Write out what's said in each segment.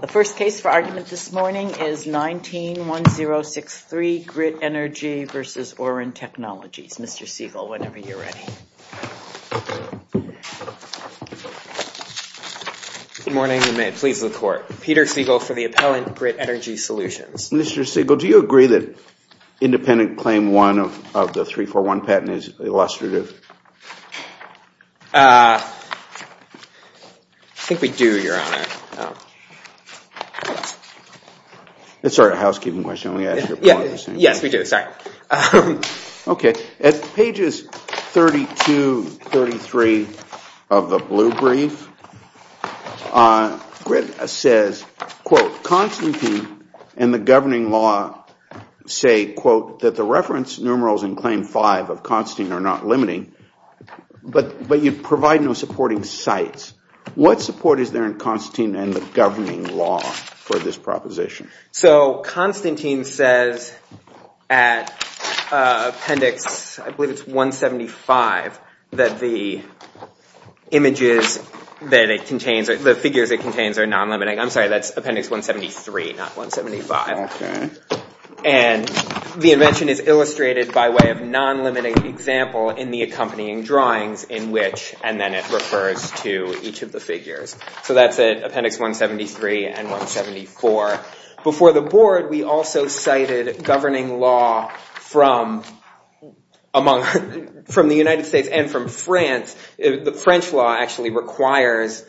The first case for argument this morning is 19-1063, Grit Energy v. Oren Technologies. Mr. Siegel, whenever you're ready. Good morning, and may it please the Court. Peter Siegel for the Appellant, Grit Energy Solutions. Mr. Siegel, do you agree that independent claim one of the 341 patent is illustrative? I think we do, Your Honor. It's sort of a housekeeping question. Yes, we do. Okay, at pages 32-33 of the blue brief, Grit says, Quote, Constantine and the governing law say, Quote, that the reference numerals in claim five of Constantine are not limiting, but you provide no supporting sites. What support is there in Constantine and the governing law for this proposition? So Constantine says at appendix, I believe it's 175, that the images that it contains, the figures it contains are non-limiting. I'm sorry, that's appendix 173, not 175. And the invention is illustrated by way of non-limiting example in the accompanying drawings in which, So that's it, appendix 173 and 174. Before the Board, we also cited governing law from the United States and from France. The French law actually requires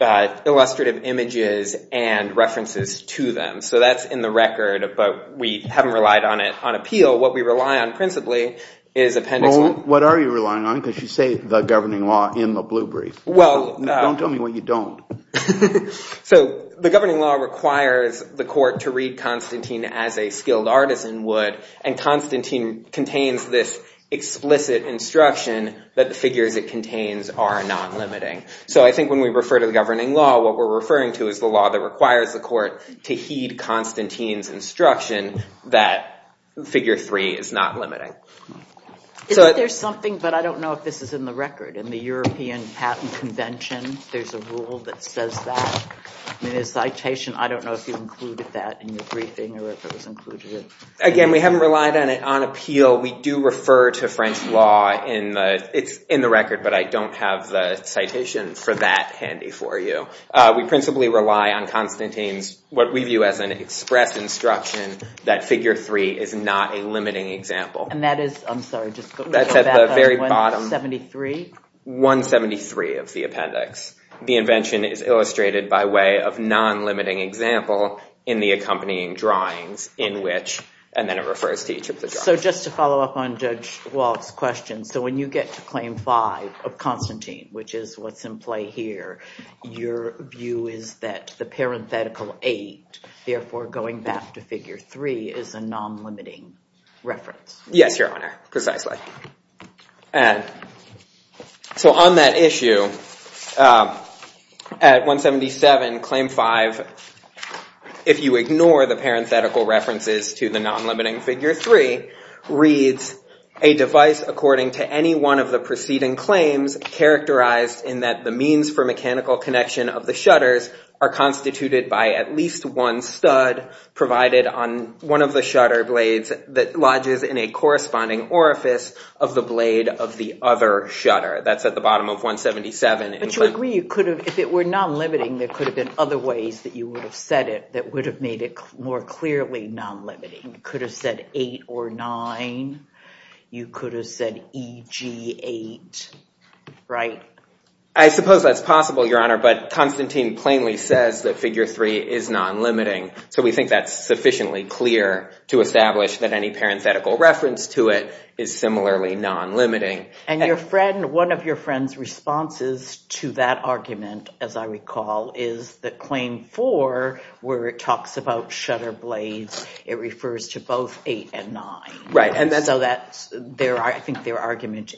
illustrative images and references to them. So that's in the record, but we haven't relied on it on appeal. What we rely on principally is appendix one. What are you relying on? Because you say the governing law in the blue brief. Don't tell me what you don't. So the governing law requires the court to read Constantine as a skilled artisan would, and Constantine contains this explicit instruction that the figures it contains are non-limiting. So I think when we refer to the governing law, what we're referring to is the law that requires the court to heed Constantine's instruction that figure three is not limiting. So there's something, but I don't know if this is in the record. In the European Patent Convention, there's a rule that says that. In the citation, I don't know if you included that in your briefing or if it was included. Again, we haven't relied on it on appeal. We do refer to French law in the, it's in the record, but I don't have the citation for that handy for you. We principally rely on Constantine's, what we view as an express instruction that figure three is not a limiting example. And that is, I'm sorry, just go back to 173? 173 of the appendix. The invention is illustrated by way of non-limiting example in the accompanying drawings in which, and then it refers to each of the drawings. So just to follow up on Judge Walsh's question. So when you get to claim five of Constantine, which is what's in play here, your view is that the parenthetical eight, therefore going back to figure three, is a non-limiting reference. Yes, Your Honor, precisely. And so on that issue, at 177, claim five, if you ignore the parenthetical references to the non-limiting figure three, reads, a device according to any one of the preceding claims characterized in that the means for mechanical connection of the shutters are constituted by at least one stud provided on one of the shutter blades that lodges in a corresponding orifice of the blade of the other shutter. That's at the bottom of 177. But you agree you could have, if it were non-limiting, there could have been other ways that you would have said it that would have made it more clearly non-limiting. You could have said eight or nine. You could have said EG8, right? I suppose that's possible, Your Honor, but Constantine plainly says that figure three is non-limiting. So we think that's sufficiently clear to establish that any parenthetical reference to it is similarly non-limiting. And one of your friend's responses to that argument, as I recall, is that claim four, where it talks about shutter blades, it refers to both eight and nine. I think their argument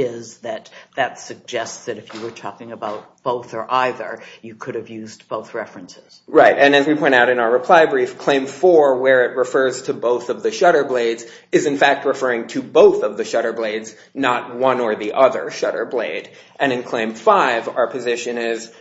is that that suggests that if you were talking about both or either, you could have used both references. Right. And as we point out in our reply brief, claim four, where it refers to both of the shutter blades, is in fact referring to both of the shutter blades, not one or the other shutter blade. And in claim five, our position is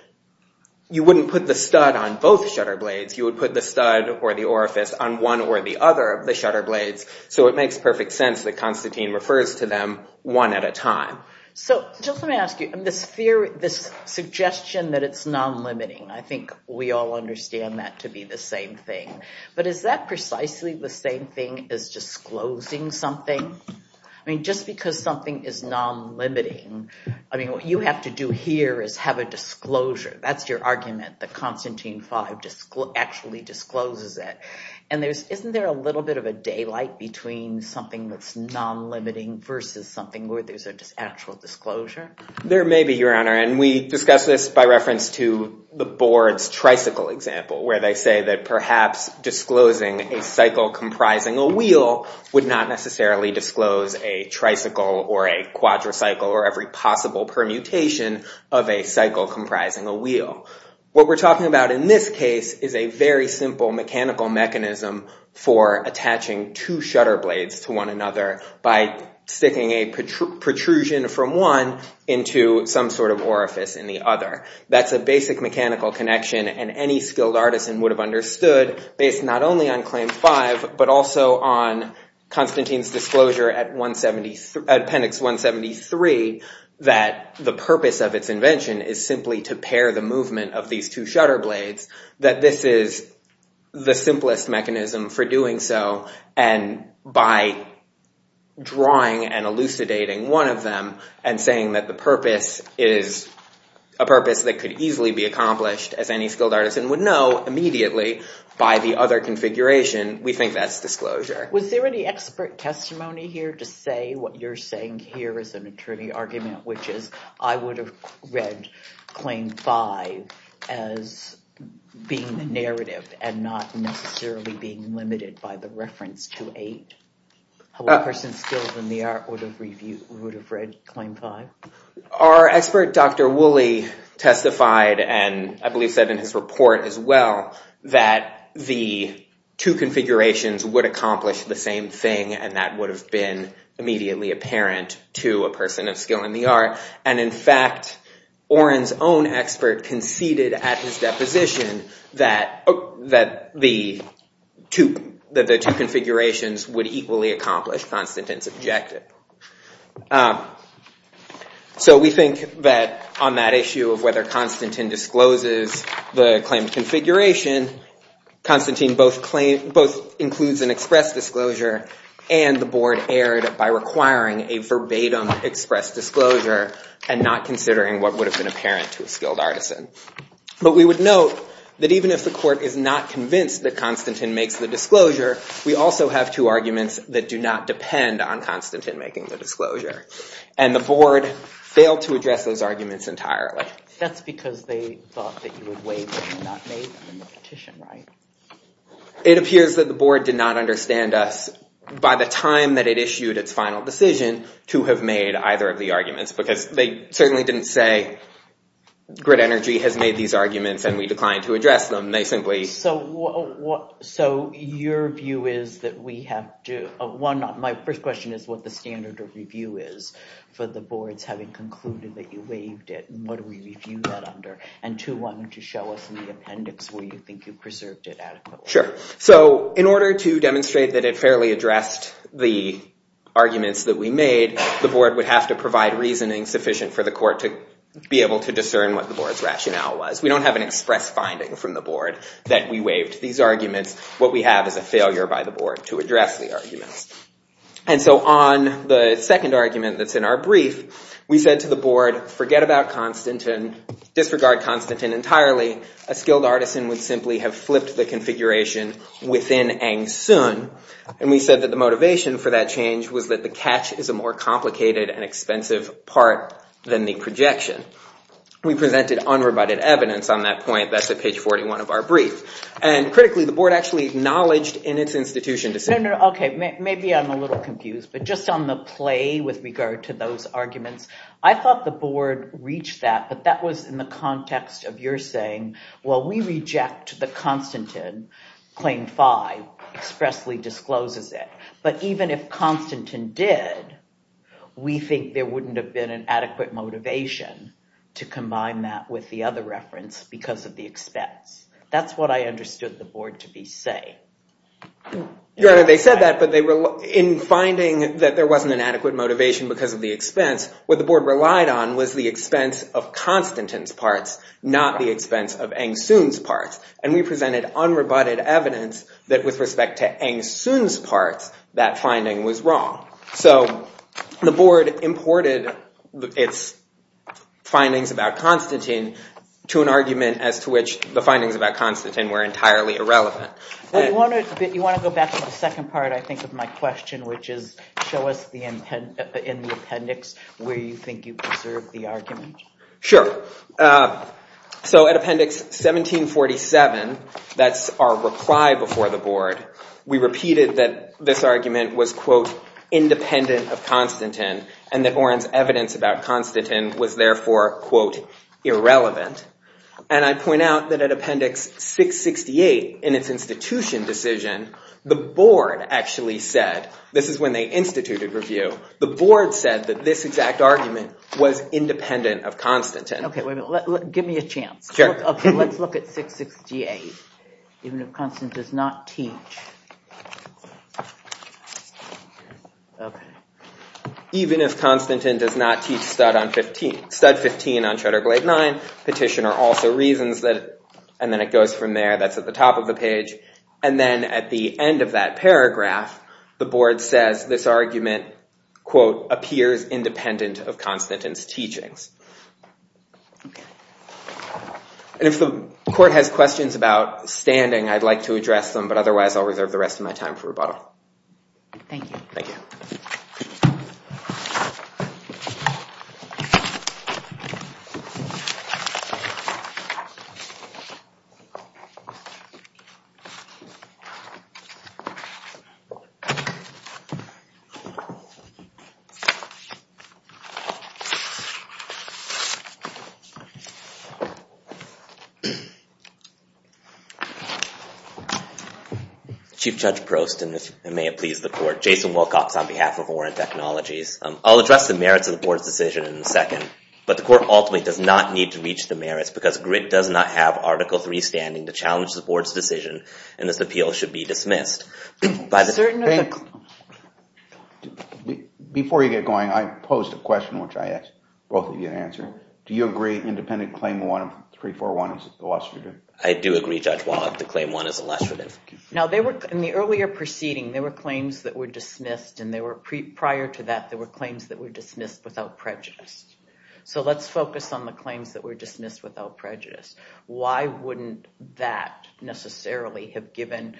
you wouldn't put the stud on both shutter blades. You would put the stud or the orifice on one or the other of the shutter blades. So it makes perfect sense that Constantine refers to them one at a time. So just let me ask you, this suggestion that it's non-limiting, I think we all understand that to be the same thing. But is that precisely the same thing as disclosing something? I mean, just because something is non-limiting, I mean, what you have to do here is have a disclosure. That's your argument, that Constantine V actually discloses it. And isn't there a little bit of a daylight between something that's non-limiting versus something where there's an actual disclosure? And we discuss this by reference to the board's tricycle example, where they say that perhaps disclosing a cycle comprising a wheel would not necessarily disclose a tricycle or a quadricycle or every possible permutation of a cycle comprising a wheel. What we're talking about in this case is a very simple mechanical mechanism for attaching two shutter blades to one another by sticking a protrusion from one into some sort of orifice in the other. That's a basic mechanical connection. And any skilled artisan would have understood, based not only on Claim 5, but also on Constantine's disclosure at Appendix 173, that the purpose of its invention is simply to pair the movement of these two shutter blades, that this is the simplest mechanism for doing so. And by drawing and elucidating one of them and saying that the purpose is a purpose that could easily be accomplished, as any skilled artisan would know immediately by the other configuration, we think that's disclosure. Was there any expert testimony here to say what you're saying here is an attorney argument, which is I would have read Claim 5 as being the narrative and not necessarily being limited by the reference to a person skilled in the art would have read Claim 5? Our expert, Dr. Woolley, testified, and I believe said in his report as well, that the two configurations would accomplish the same thing, and that would have been immediately apparent to a person of skill in the art. And in fact, Oren's own expert conceded at his deposition that the two configurations would equally accomplish Constantine's objective. So we think that on that issue of whether Constantine discloses the claimed configuration, Constantine both includes an express disclosure and the board erred by requiring a verbatim express disclosure and not considering what would have been apparent to a skilled artisan. But we would note that even if the court is not convinced that Constantine makes the disclosure, we also have two arguments that do not depend on Constantine making the disclosure, and the board failed to address those arguments entirely. That's because they thought that you would waive and not make them in the petition, right? It appears that the board did not understand us by the time that it issued its final decision to have made either of the arguments, because they certainly didn't say grid energy has made these arguments and we declined to address them. So your view is that we have to, one, my first question is what the standard of review is for the boards having concluded that you waived it, and what do we review that under? And two, one, to show us in the appendix where you think you preserved it adequately. Sure. So in order to demonstrate that it fairly addressed the arguments that we made, the board would have to provide reasoning sufficient for the court to be able to discern what the board's rationale was. We don't have an express finding from the board that we waived these arguments. What we have is a failure by the board to address the arguments. And so on the second argument that's in our brief, we said to the board, forget about Constantine, disregard Constantine entirely. A skilled artisan would simply have flipped the configuration within Aung San. And we said that the motivation for that change was that the catch is a more complicated and expensive part than the projection. We presented unrebutted evidence on that point. That's at page 41 of our brief. And critically, the board actually acknowledged in its institution to say— No, no, no. Okay. Maybe I'm a little confused. But just on the play with regard to those arguments, I thought the board reached that, but that was in the context of your saying, well, we reject that Constantine, claim five, expressly discloses it. But even if Constantine did, we think there wouldn't have been an adequate motivation to combine that with the other reference because of the expense. That's what I understood the board to be saying. Your Honor, they said that, but in finding that there wasn't an adequate motivation because of the expense, what the board relied on was the expense of Constantine's parts, not the expense of Aung San's parts. And we presented unrebutted evidence that with respect to Aung San's parts, that finding was wrong. So the board imported its findings about Constantine to an argument as to which the findings about Constantine were entirely irrelevant. Well, you want to go back to the second part, I think, of my question, which is show us in the appendix where you think you preserved the argument. Sure. So at Appendix 1747, that's our reply before the board, we repeated that this argument was, quote, independent of Constantine and that Orrin's evidence about Constantine was therefore, quote, irrelevant. And I point out that at Appendix 668 in its institution decision, the board actually said, this is when they instituted review, the board said that this exact argument was independent of Constantine. Give me a chance. Sure. OK, let's look at 668, even if Constantine does not teach. Even if Constantine does not teach stud 15 on Shutterblade 9, petitioner also reasons that, and then it goes from there, that's at the top of the page. And then at the end of that paragraph, the board says this argument, quote, appears independent of Constantine's teachings. And if the court has questions about standing, I'd like to address them, but otherwise, I'll reserve the rest of my time for rebuttal. Thank you. Thank you. Chief Judge Prost, and may it please the court. Jason Wilcox on behalf of Orrin Technologies. I'll address the merits of the board's decision in a second, but the court ultimately does not need to reach the merits because Grit does not have Article III standing to challenge the board's decision, and this appeal should be dismissed. By the certain of the court. I do agree, Judge Wallach, that claim one is illustrative. Now, in the earlier proceeding, there were claims that were dismissed, and prior to that, there were claims that were dismissed without prejudice. So let's focus on the claims that were dismissed without prejudice. Why wouldn't that necessarily have given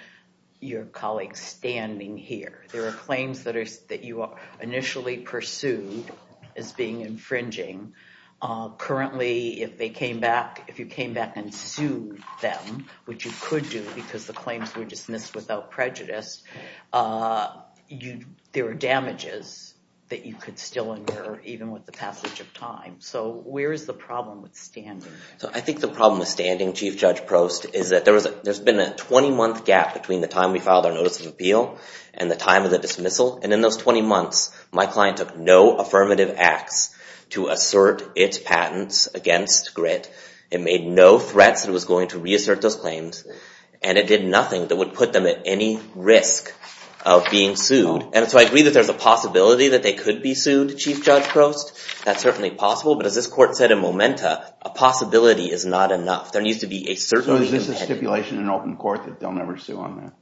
your colleagues standing here? There are claims that you initially pursued as being infringing. Currently, if you came back and sued them, which you could do because the claims were dismissed without prejudice, there are damages that you could still incur even with the passage of time. So where is the problem with standing? So I think the problem with standing, Chief Judge Prost, is that there's been a 20-month gap between the time we filed our notice of appeal and the time of the dismissal. And in those 20 months, my client took no affirmative acts to assert its patents against Grit. It made no threats that it was going to reassert those claims, and it did nothing that would put them at any risk of being sued. And so I agree that there's a possibility that they could be sued, Chief Judge Prost. That's certainly possible, but as this court said in momenta, a possibility is not enough. There needs to be a certainty. So is this a stipulation in open court that they'll never sue on that?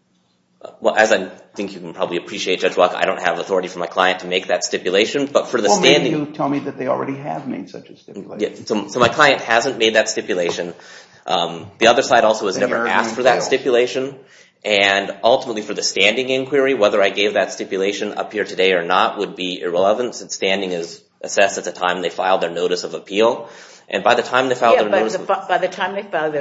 Well, as I think you can probably appreciate, Judge Walk, I don't have authority for my client to make that stipulation. Well, maybe you tell me that they already have made such a stipulation. So my client hasn't made that stipulation. The other side also has never asked for that stipulation. And ultimately, for the standing inquiry, whether I gave that stipulation up here today or not would be irrelevant, since standing is assessed at the time they filed their notice of appeal. And by the time they filed their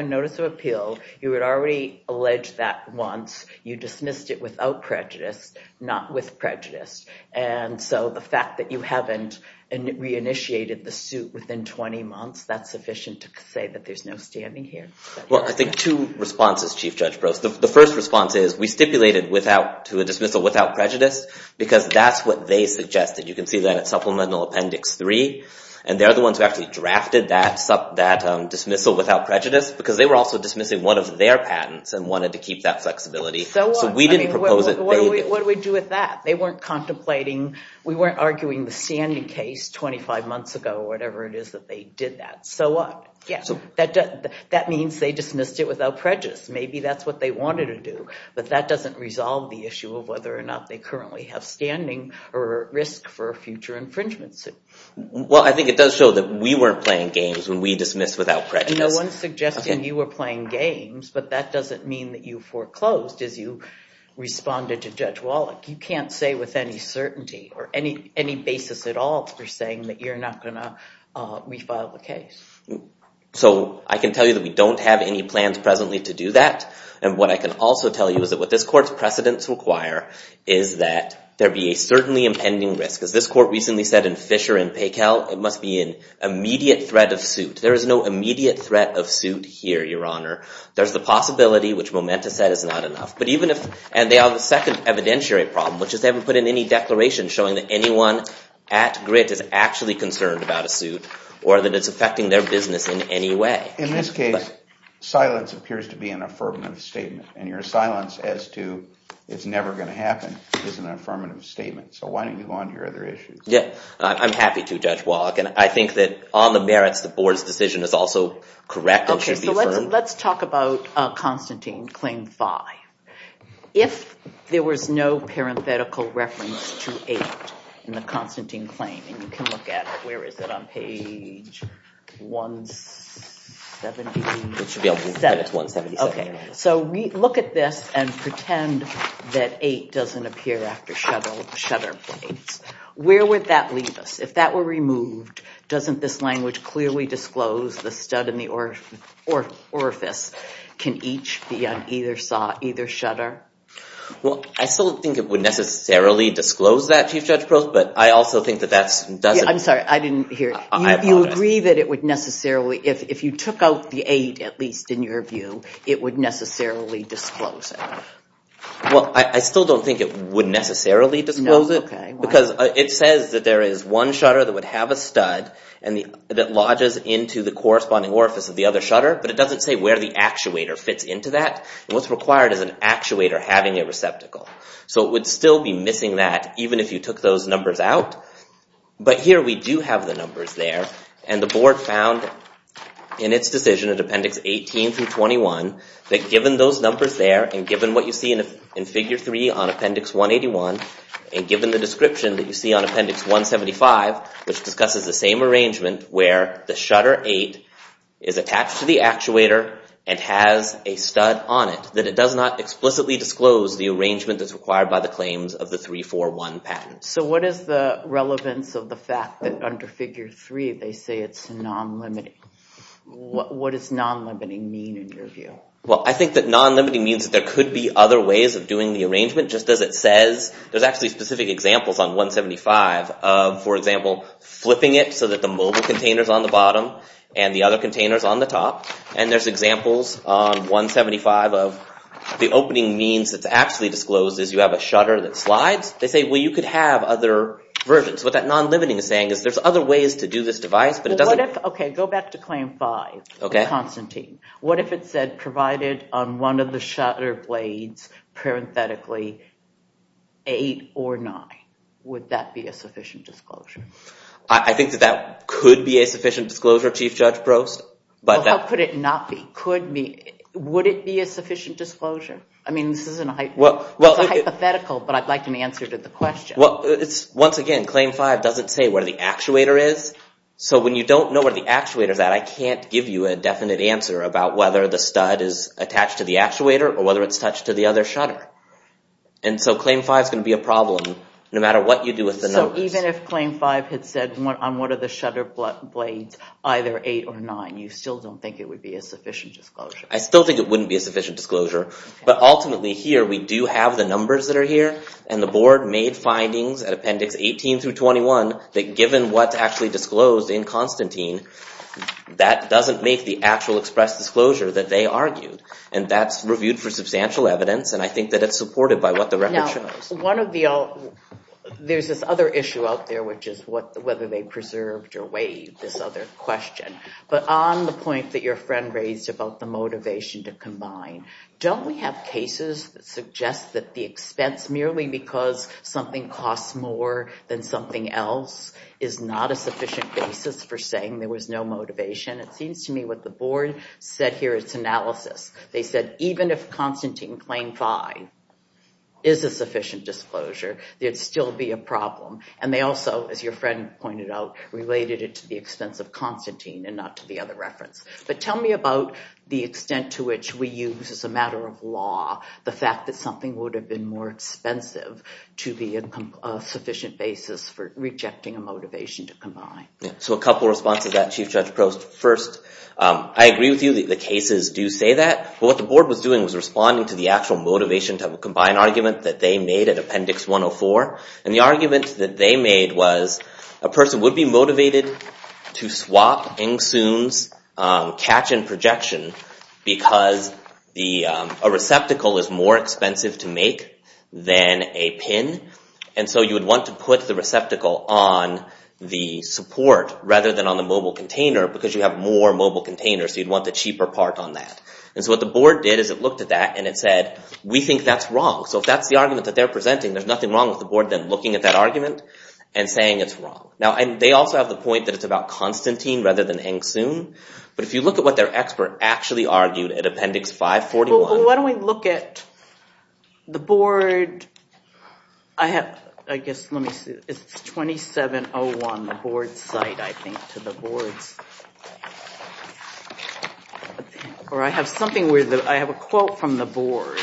notice of appeal, you had already alleged that once. You dismissed it without prejudice, not with prejudice. And so the fact that you haven't reinitiated the suit within 20 months, that's sufficient to say that there's no standing here. Well, I think two responses, Chief Judge Prost. The first response is, we stipulated to a dismissal without prejudice, because that's what they suggested. You can see that at Supplemental Appendix 3. And they're the ones who actually drafted that dismissal without prejudice, because they were also dismissing one of their patents and wanted to keep that flexibility. So what? So we didn't propose it. What do we do with that? They weren't contemplating. We weren't arguing the standing case 25 months ago, or whatever it is that they did that. So what? Yes. That means they dismissed it without prejudice. Maybe that's what they wanted to do. But that doesn't resolve the issue of whether or not they currently have standing or risk for a future infringement suit. Well, I think it does show that we weren't playing games when we dismissed without prejudice. No one's suggesting you were playing games, but that doesn't mean that you foreclosed as you responded to Judge Wallach. You can't say with any certainty or any basis at all for saying that you're not going to refile the case. So I can tell you that we don't have any plans presently to do that. And what I can also tell you is that what this court's precedents require is that there be a certainly impending risk. As this court recently said in Fisher and Paykel, it must be an immediate threat of suit. There is no immediate threat of suit here, Your Honor. There's the possibility, which Momenta said is not enough. And they have a second evidentiary problem, which is they haven't put in any declaration showing that anyone at Grit is actually concerned about a suit or that it's affecting their business in any way. In this case, silence appears to be an affirmative statement. And your silence as to it's never going to happen is an affirmative statement. So why don't you go on to your other issues? Yeah, I'm happy to, Judge Wallach. And I think that on the merits, the board's decision is also correct and should be affirmed. Okay, so let's talk about Constantine Claim 5. If there was no parenthetical reference to 8 in the Constantine Claim, and you can look at it. Where is it on page 177? It should be on page 177. Okay, so look at this and pretend that 8 doesn't appear after shutter blades. Where would that leave us? If that were removed, doesn't this language clearly disclose the stud and the orifice can each be on either saw, either shutter? Well, I still don't think it would necessarily disclose that, Chief Judge Prost. But I also think that that doesn't. I'm sorry, I didn't hear. You agree that it would necessarily, if you took out the 8, at least in your view, it would necessarily disclose it. Well, I still don't think it would necessarily disclose it. No, okay. Because it says that there is one shutter that would have a stud that lodges into the corresponding orifice of the other shutter. But it doesn't say where the actuator fits into that. What's required is an actuator having a receptacle. So it would still be missing that, even if you took those numbers out. But here we do have the numbers there. And the board found in its decision, in Appendix 18 through 21, that given those numbers there, and given what you see in Figure 3 on Appendix 181, and given the description that you see on Appendix 175, which discusses the same arrangement where the shutter 8 is attached to the actuator and has a stud on it, that it does not explicitly disclose the arrangement that's required by the claims of the 341 patent. So what is the relevance of the fact that under Figure 3 they say it's non-limiting? What does non-limiting mean in your view? Well, I think that non-limiting means that there could be other ways of doing the arrangement, just as it says. There's actually specific examples on 175 of, for example, flipping it so that the mobile container is on the bottom and the other container is on the top. And there's examples on 175 of the opening means that's actually disclosed is you have a shutter that slides. They say, well, you could have other versions. What that non-limiting is saying is there's other ways to do this device, but it doesn't... Okay, go back to Claim 5, Constantine. What if it said provided on one of the shutter blades, parenthetically, 8 or 9? Would that be a sufficient disclosure? I think that that could be a sufficient disclosure, Chief Judge Brost. How could it not be? Would it be a sufficient disclosure? I mean, this is a hypothetical, but I'd like an answer to the question. Well, once again, Claim 5 doesn't say where the actuator is. So when you don't know where the actuator is at, I can't give you a definite answer about whether the stud is attached to the actuator or whether it's attached to the other shutter. And so Claim 5 is going to be a problem no matter what you do with the numbers. So even if Claim 5 had said on one of the shutter blades either 8 or 9, you still don't think it would be a sufficient disclosure? I still think it wouldn't be a sufficient disclosure. But ultimately here, we do have the numbers that are here, and the Board made findings at Appendix 18 through 21 that given what's actually disclosed in Constantine, that doesn't make the actual express disclosure that they argued. And that's reviewed for substantial evidence, and I think that it's supported by what the record shows. Now, there's this other issue out there, which is whether they preserved or waived this other question. But on the point that your friend raised about the motivation to combine, don't we have cases that suggest that the expense, merely because something costs more than something else, is not a sufficient basis for saying there was no motivation? It seems to me what the Board said here is analysis. They said even if Constantine Claim 5 is a sufficient disclosure, there'd still be a problem. And they also, as your friend pointed out, related it to the expense of Constantine and not to the other reference. But tell me about the extent to which we use as a matter of law the fact that something would have been more expensive to be a sufficient basis for rejecting a motivation to combine. So a couple of responses to that, Chief Judge Prost. First, I agree with you that the cases do say that, but what the Board was doing was responding to the actual motivation to have a combined argument that they made at Appendix 104. And the argument that they made was a person would be motivated to swap Eng-Soon's catch and projection because a receptacle is more expensive to make than a pin. And so you would want to put the receptacle on the support rather than on the mobile container because you have more mobile containers, so you'd want the cheaper part on that. And so what the Board did is it looked at that and it said, we think that's wrong. So if that's the argument that they're presenting, there's nothing wrong with the Board then looking at that argument and saying it's wrong. Now, they also have the point that it's about Constantine rather than Eng-Soon. But if you look at what their expert actually argued at Appendix 541... Well, why don't we look at the Board... I have, I guess, let me see. It's 2701, the Board's site, I think, to the Board's. Or I have something where I have a quote from the Board.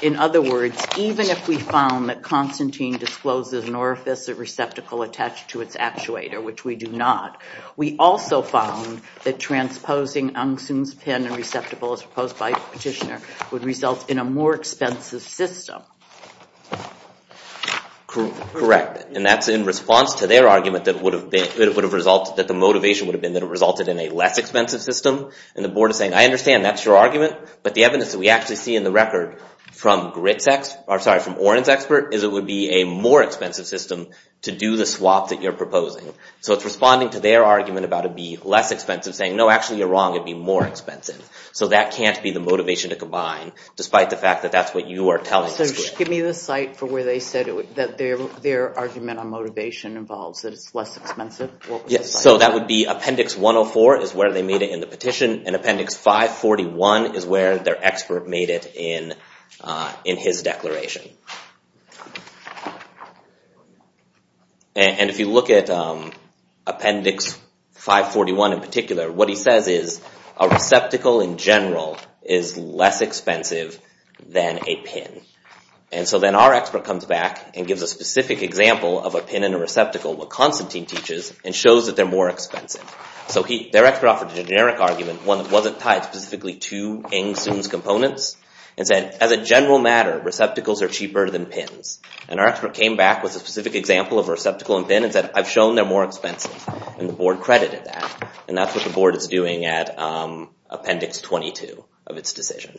In other words, even if we found that Constantine discloses an orifice or receptacle attached to its actuator, which we do not, we also found that transposing Eng-Soon's pen and receptacle as proposed by the petitioner would result in a more expensive system. Correct, and that's in response to their argument that it would have resulted, that the motivation would have been that it resulted in a less expensive system. And the Board is saying, I understand, that's your argument, but the evidence that we actually see in the record from Orin's expert is it would be a more expensive system to do the swap that you're proposing. So it's responding to their argument about it being less expensive, saying, no, actually, you're wrong, it'd be more expensive. So that can't be the motivation to combine, despite the fact that that's what you are telling us. Give me the site for where they said that their argument on motivation involves that it's less expensive. So that would be Appendix 104 is where they made it in the petition, and Appendix 541 is where their expert made it in his declaration. And if you look at Appendix 541 in particular, what he says is, a receptacle in general is less expensive than a pin. And so then our expert comes back and gives a specific example of a pin and a receptacle, what Constantine teaches, and shows that they're more expensive. So their expert offered a generic argument, one that wasn't tied specifically to Eng-Sun's components, and said, as a general matter, receptacles are cheaper than pins. And our expert came back with a specific example of a receptacle and pin and said, I've shown they're more expensive. And the board credited that. And that's what the board is doing at Appendix 22 of its decision.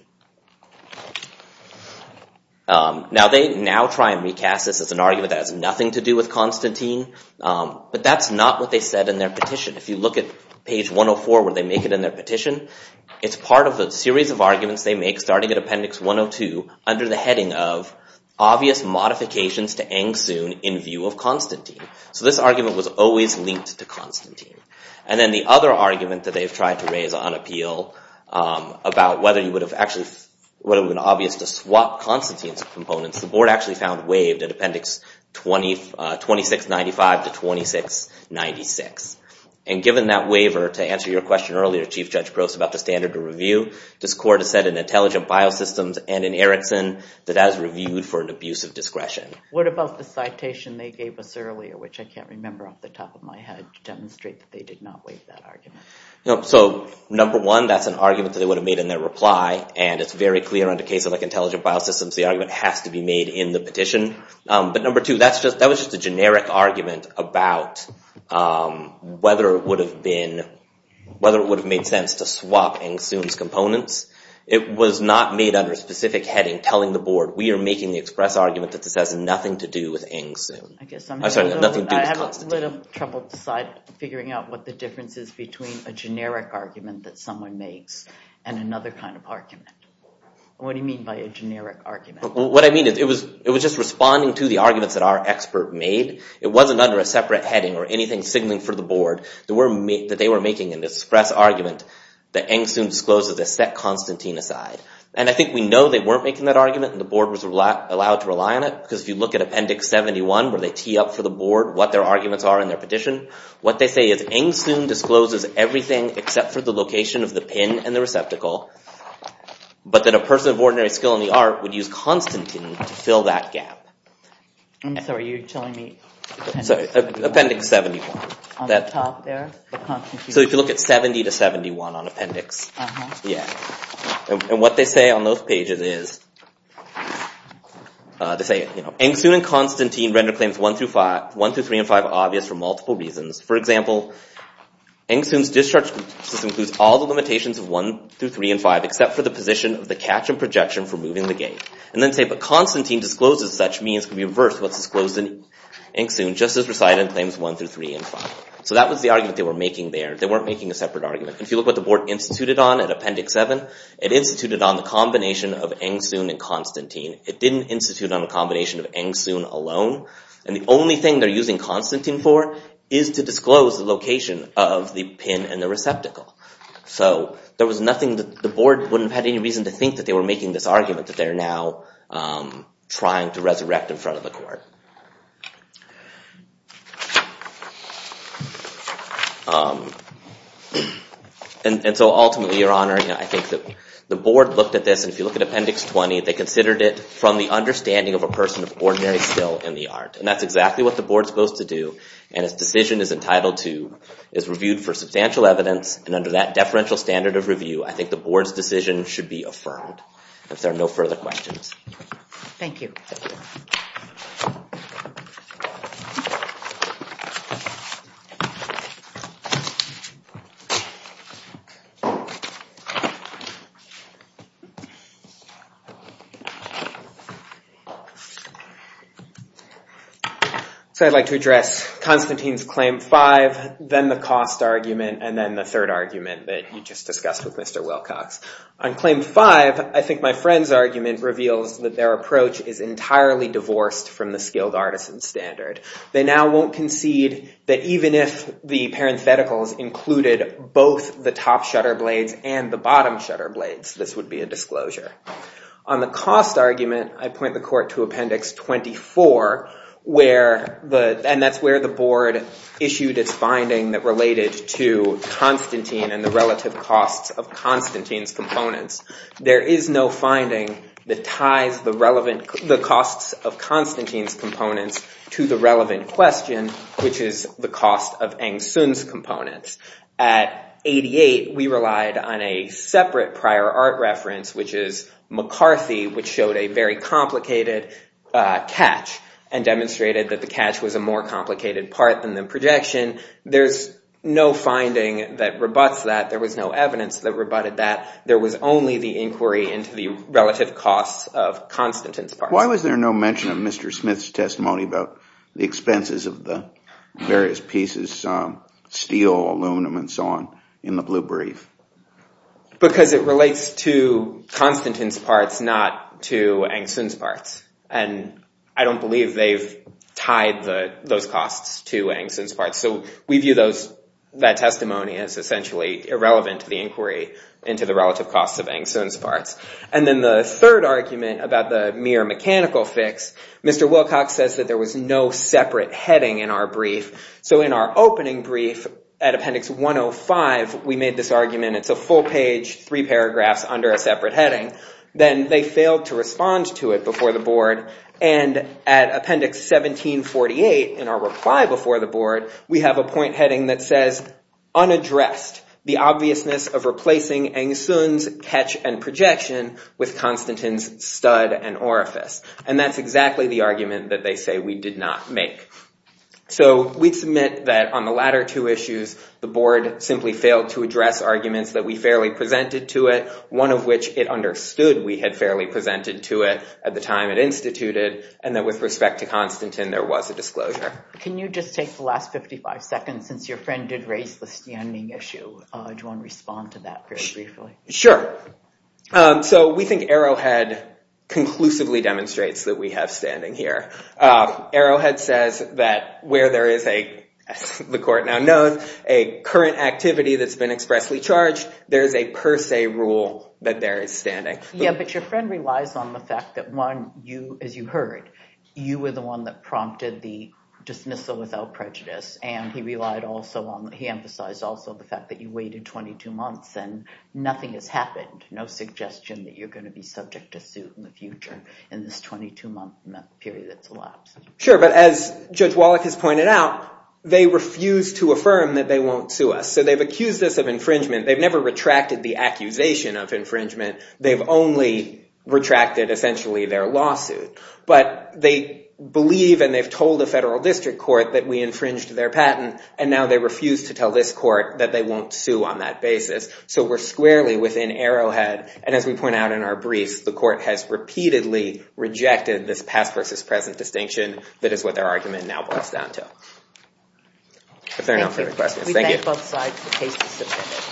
Now they now try and recast this as an argument that has nothing to do with Constantine, but that's not what they said in their petition. If you look at page 104, where they make it in their petition, it's part of a series of arguments they make, starting at Appendix 102, under the heading of, obvious modifications to Eng-Sun in view of Constantine. So this argument was always linked to Constantine. And then the other argument that they've tried to raise on appeal, about whether it would have been obvious to swap Constantine's components, the board actually found waived at Appendix 2695 to 2696. And given that waiver, to answer your question earlier, Chief Judge Gross, about the standard of review, this court has said in Intelligent Biosystems and in Erickson, that that is reviewed for an abuse of discretion. What about the citation they gave us earlier, which I can't remember off the top of my head, to demonstrate that they did not waive that argument? So number one, that's an argument that they would have made in their reply. And it's very clear under cases like Intelligent Biosystems, the argument has to be made in the petition. But number two, that was just a generic argument about whether it would have been, whether it would have made sense to swap Ng-Soon's components. It was not made under a specific heading telling the board, we are making the express argument that this has nothing to do with Ng-Soon. I'm sorry, nothing to do with Constantine. I have a little trouble figuring out what the difference is between a generic argument that someone makes and another kind of argument. What do you mean by a generic argument? What I mean is, it was just responding to the arguments that our expert made. It wasn't under a separate heading or anything signaling for the board that they were making an express argument that Ng-Soon discloses that set Constantine aside. And I think we know they weren't making that argument and the board was allowed to rely on it because if you look at Appendix 71 where they tee up for the board what their arguments are in their petition, what they say is, Ng-Soon discloses everything except for the location of the pin and the receptacle, but that a person of ordinary skill in the art would use Constantine to fill that gap. I'm sorry, you're telling me... Appendix 71. So if you look at 70 to 71 on Appendix. And what they say on those pages is, Ng-Soon and Constantine render claims 1 through 3 and 5 obvious for multiple reasons. For example, Ng-Soon's discharge system includes all the limitations of 1 through 3 and 5 except for the position of the catch and projection for moving the gate. And then say, that Constantine discloses such means can be reversed to what's disclosed in Ng-Soon just as recited in claims 1 through 3 and 5. So that was the argument they were making there. They weren't making a separate argument. If you look what the board instituted on in Appendix 7, it instituted on the combination of Ng-Soon and Constantine. It didn't institute on a combination of Ng-Soon alone. And the only thing they're using Constantine for is to disclose the location of the pin and the receptacle. So there was nothing... The board wouldn't have had any reason to think that they were making this argument, that they're now trying to resurrect in front of the court. And so ultimately, Your Honor, I think that the board looked at this and if you look at Appendix 20, they considered it from the understanding of a person of ordinary skill in the art. And that's exactly what the board's supposed to do and its decision is entitled to... is reviewed for substantial evidence and under that deferential standard of review, I think the board's decision should be affirmed. If there are no further questions. Thank you. So I'd like to address Constantine's Claim 5, then the cost argument, and then the third argument that you just discussed with Mr. Wilcox. On Claim 5, I think my friend's argument reveals that their approach is entirely divorced from the skilled artisan standard. They now won't concede that even if the parentheticals included both the top shutter blades and the bottom shutter blades, this would be a disclosure. On the cost argument, I point the court to Appendix 24 where the... and that's where the board issued its finding that related to Constantine and the relative costs of Constantine and Constantine's components. There is no finding that ties the relevant... the costs of Constantine's components to the relevant question, which is the cost of Eng-Sun's components. At 88, we relied on a separate prior art reference, which is McCarthy, which showed a very complicated catch and demonstrated that the catch was a more complicated part than the projection. There's no finding that rebutts that. There was no evidence that rebutted that. There was only the inquiry into the relative costs of Constantine's parts. Why was there no mention of Mr. Smith's testimony about the expenses of the various pieces, steel, aluminum, and so on, in the blue brief? Because it relates to Constantine's parts, not to Eng-Sun's parts. And I don't believe they've tied those costs to Eng-Sun's parts. So we view that testimony as essentially irrelevant to the inquiry into the relative costs of Eng-Sun's parts. And then the third argument about the mere mechanical fix, Mr. Wilcox says that there was no separate heading in our brief. So in our opening brief at Appendix 105, we made this argument it's a full page, three paragraphs under a separate heading. Then they failed to respond to it before the board. And at Appendix 1748, in our reply before the board, we have a point heading that says unaddressed the obviousness of replacing Eng-Sun's catch and projection with Constantine's stud and orifice. And that's exactly the argument that they say we did not make. So we submit that on the latter two issues, the board simply failed to address arguments that we fairly presented to it, one of which it understood we had fairly presented to it at the time it instituted, and that with respect to Constantine, there was a disclosure. Can you just take the last 55 seconds and since your friend did raise the standing issue, do you want to respond to that very briefly? Sure. So we think Arrowhead conclusively demonstrates that we have standing here. Arrowhead says that where there is a, as the court now knows, a current activity that's been expressly charged, there is a per se rule that there is standing. Yeah, but your friend relies on the fact that one, as you heard, you were the one that prompted the dismissal without prejudice. And he relied also on, he emphasized also the fact that you waited 22 months and nothing has happened, no suggestion that you're going to be subject to suit in the future in this 22-month period that's elapsed. Sure, but as Judge Wallach has pointed out, they refused to affirm that they won't sue us. So they've accused us of infringement. They've never retracted the accusation of infringement. They've only retracted essentially their lawsuit. But they believe and they've told the federal district court that we infringed their patent. And now they refuse to tell this court that they won't sue on that basis. So we're squarely within arrowhead. And as we point out in our briefs, the court has repeatedly rejected this past versus present distinction that is what their argument now boils down to. If there are no further questions, thank you. We thank both sides for cases submitted.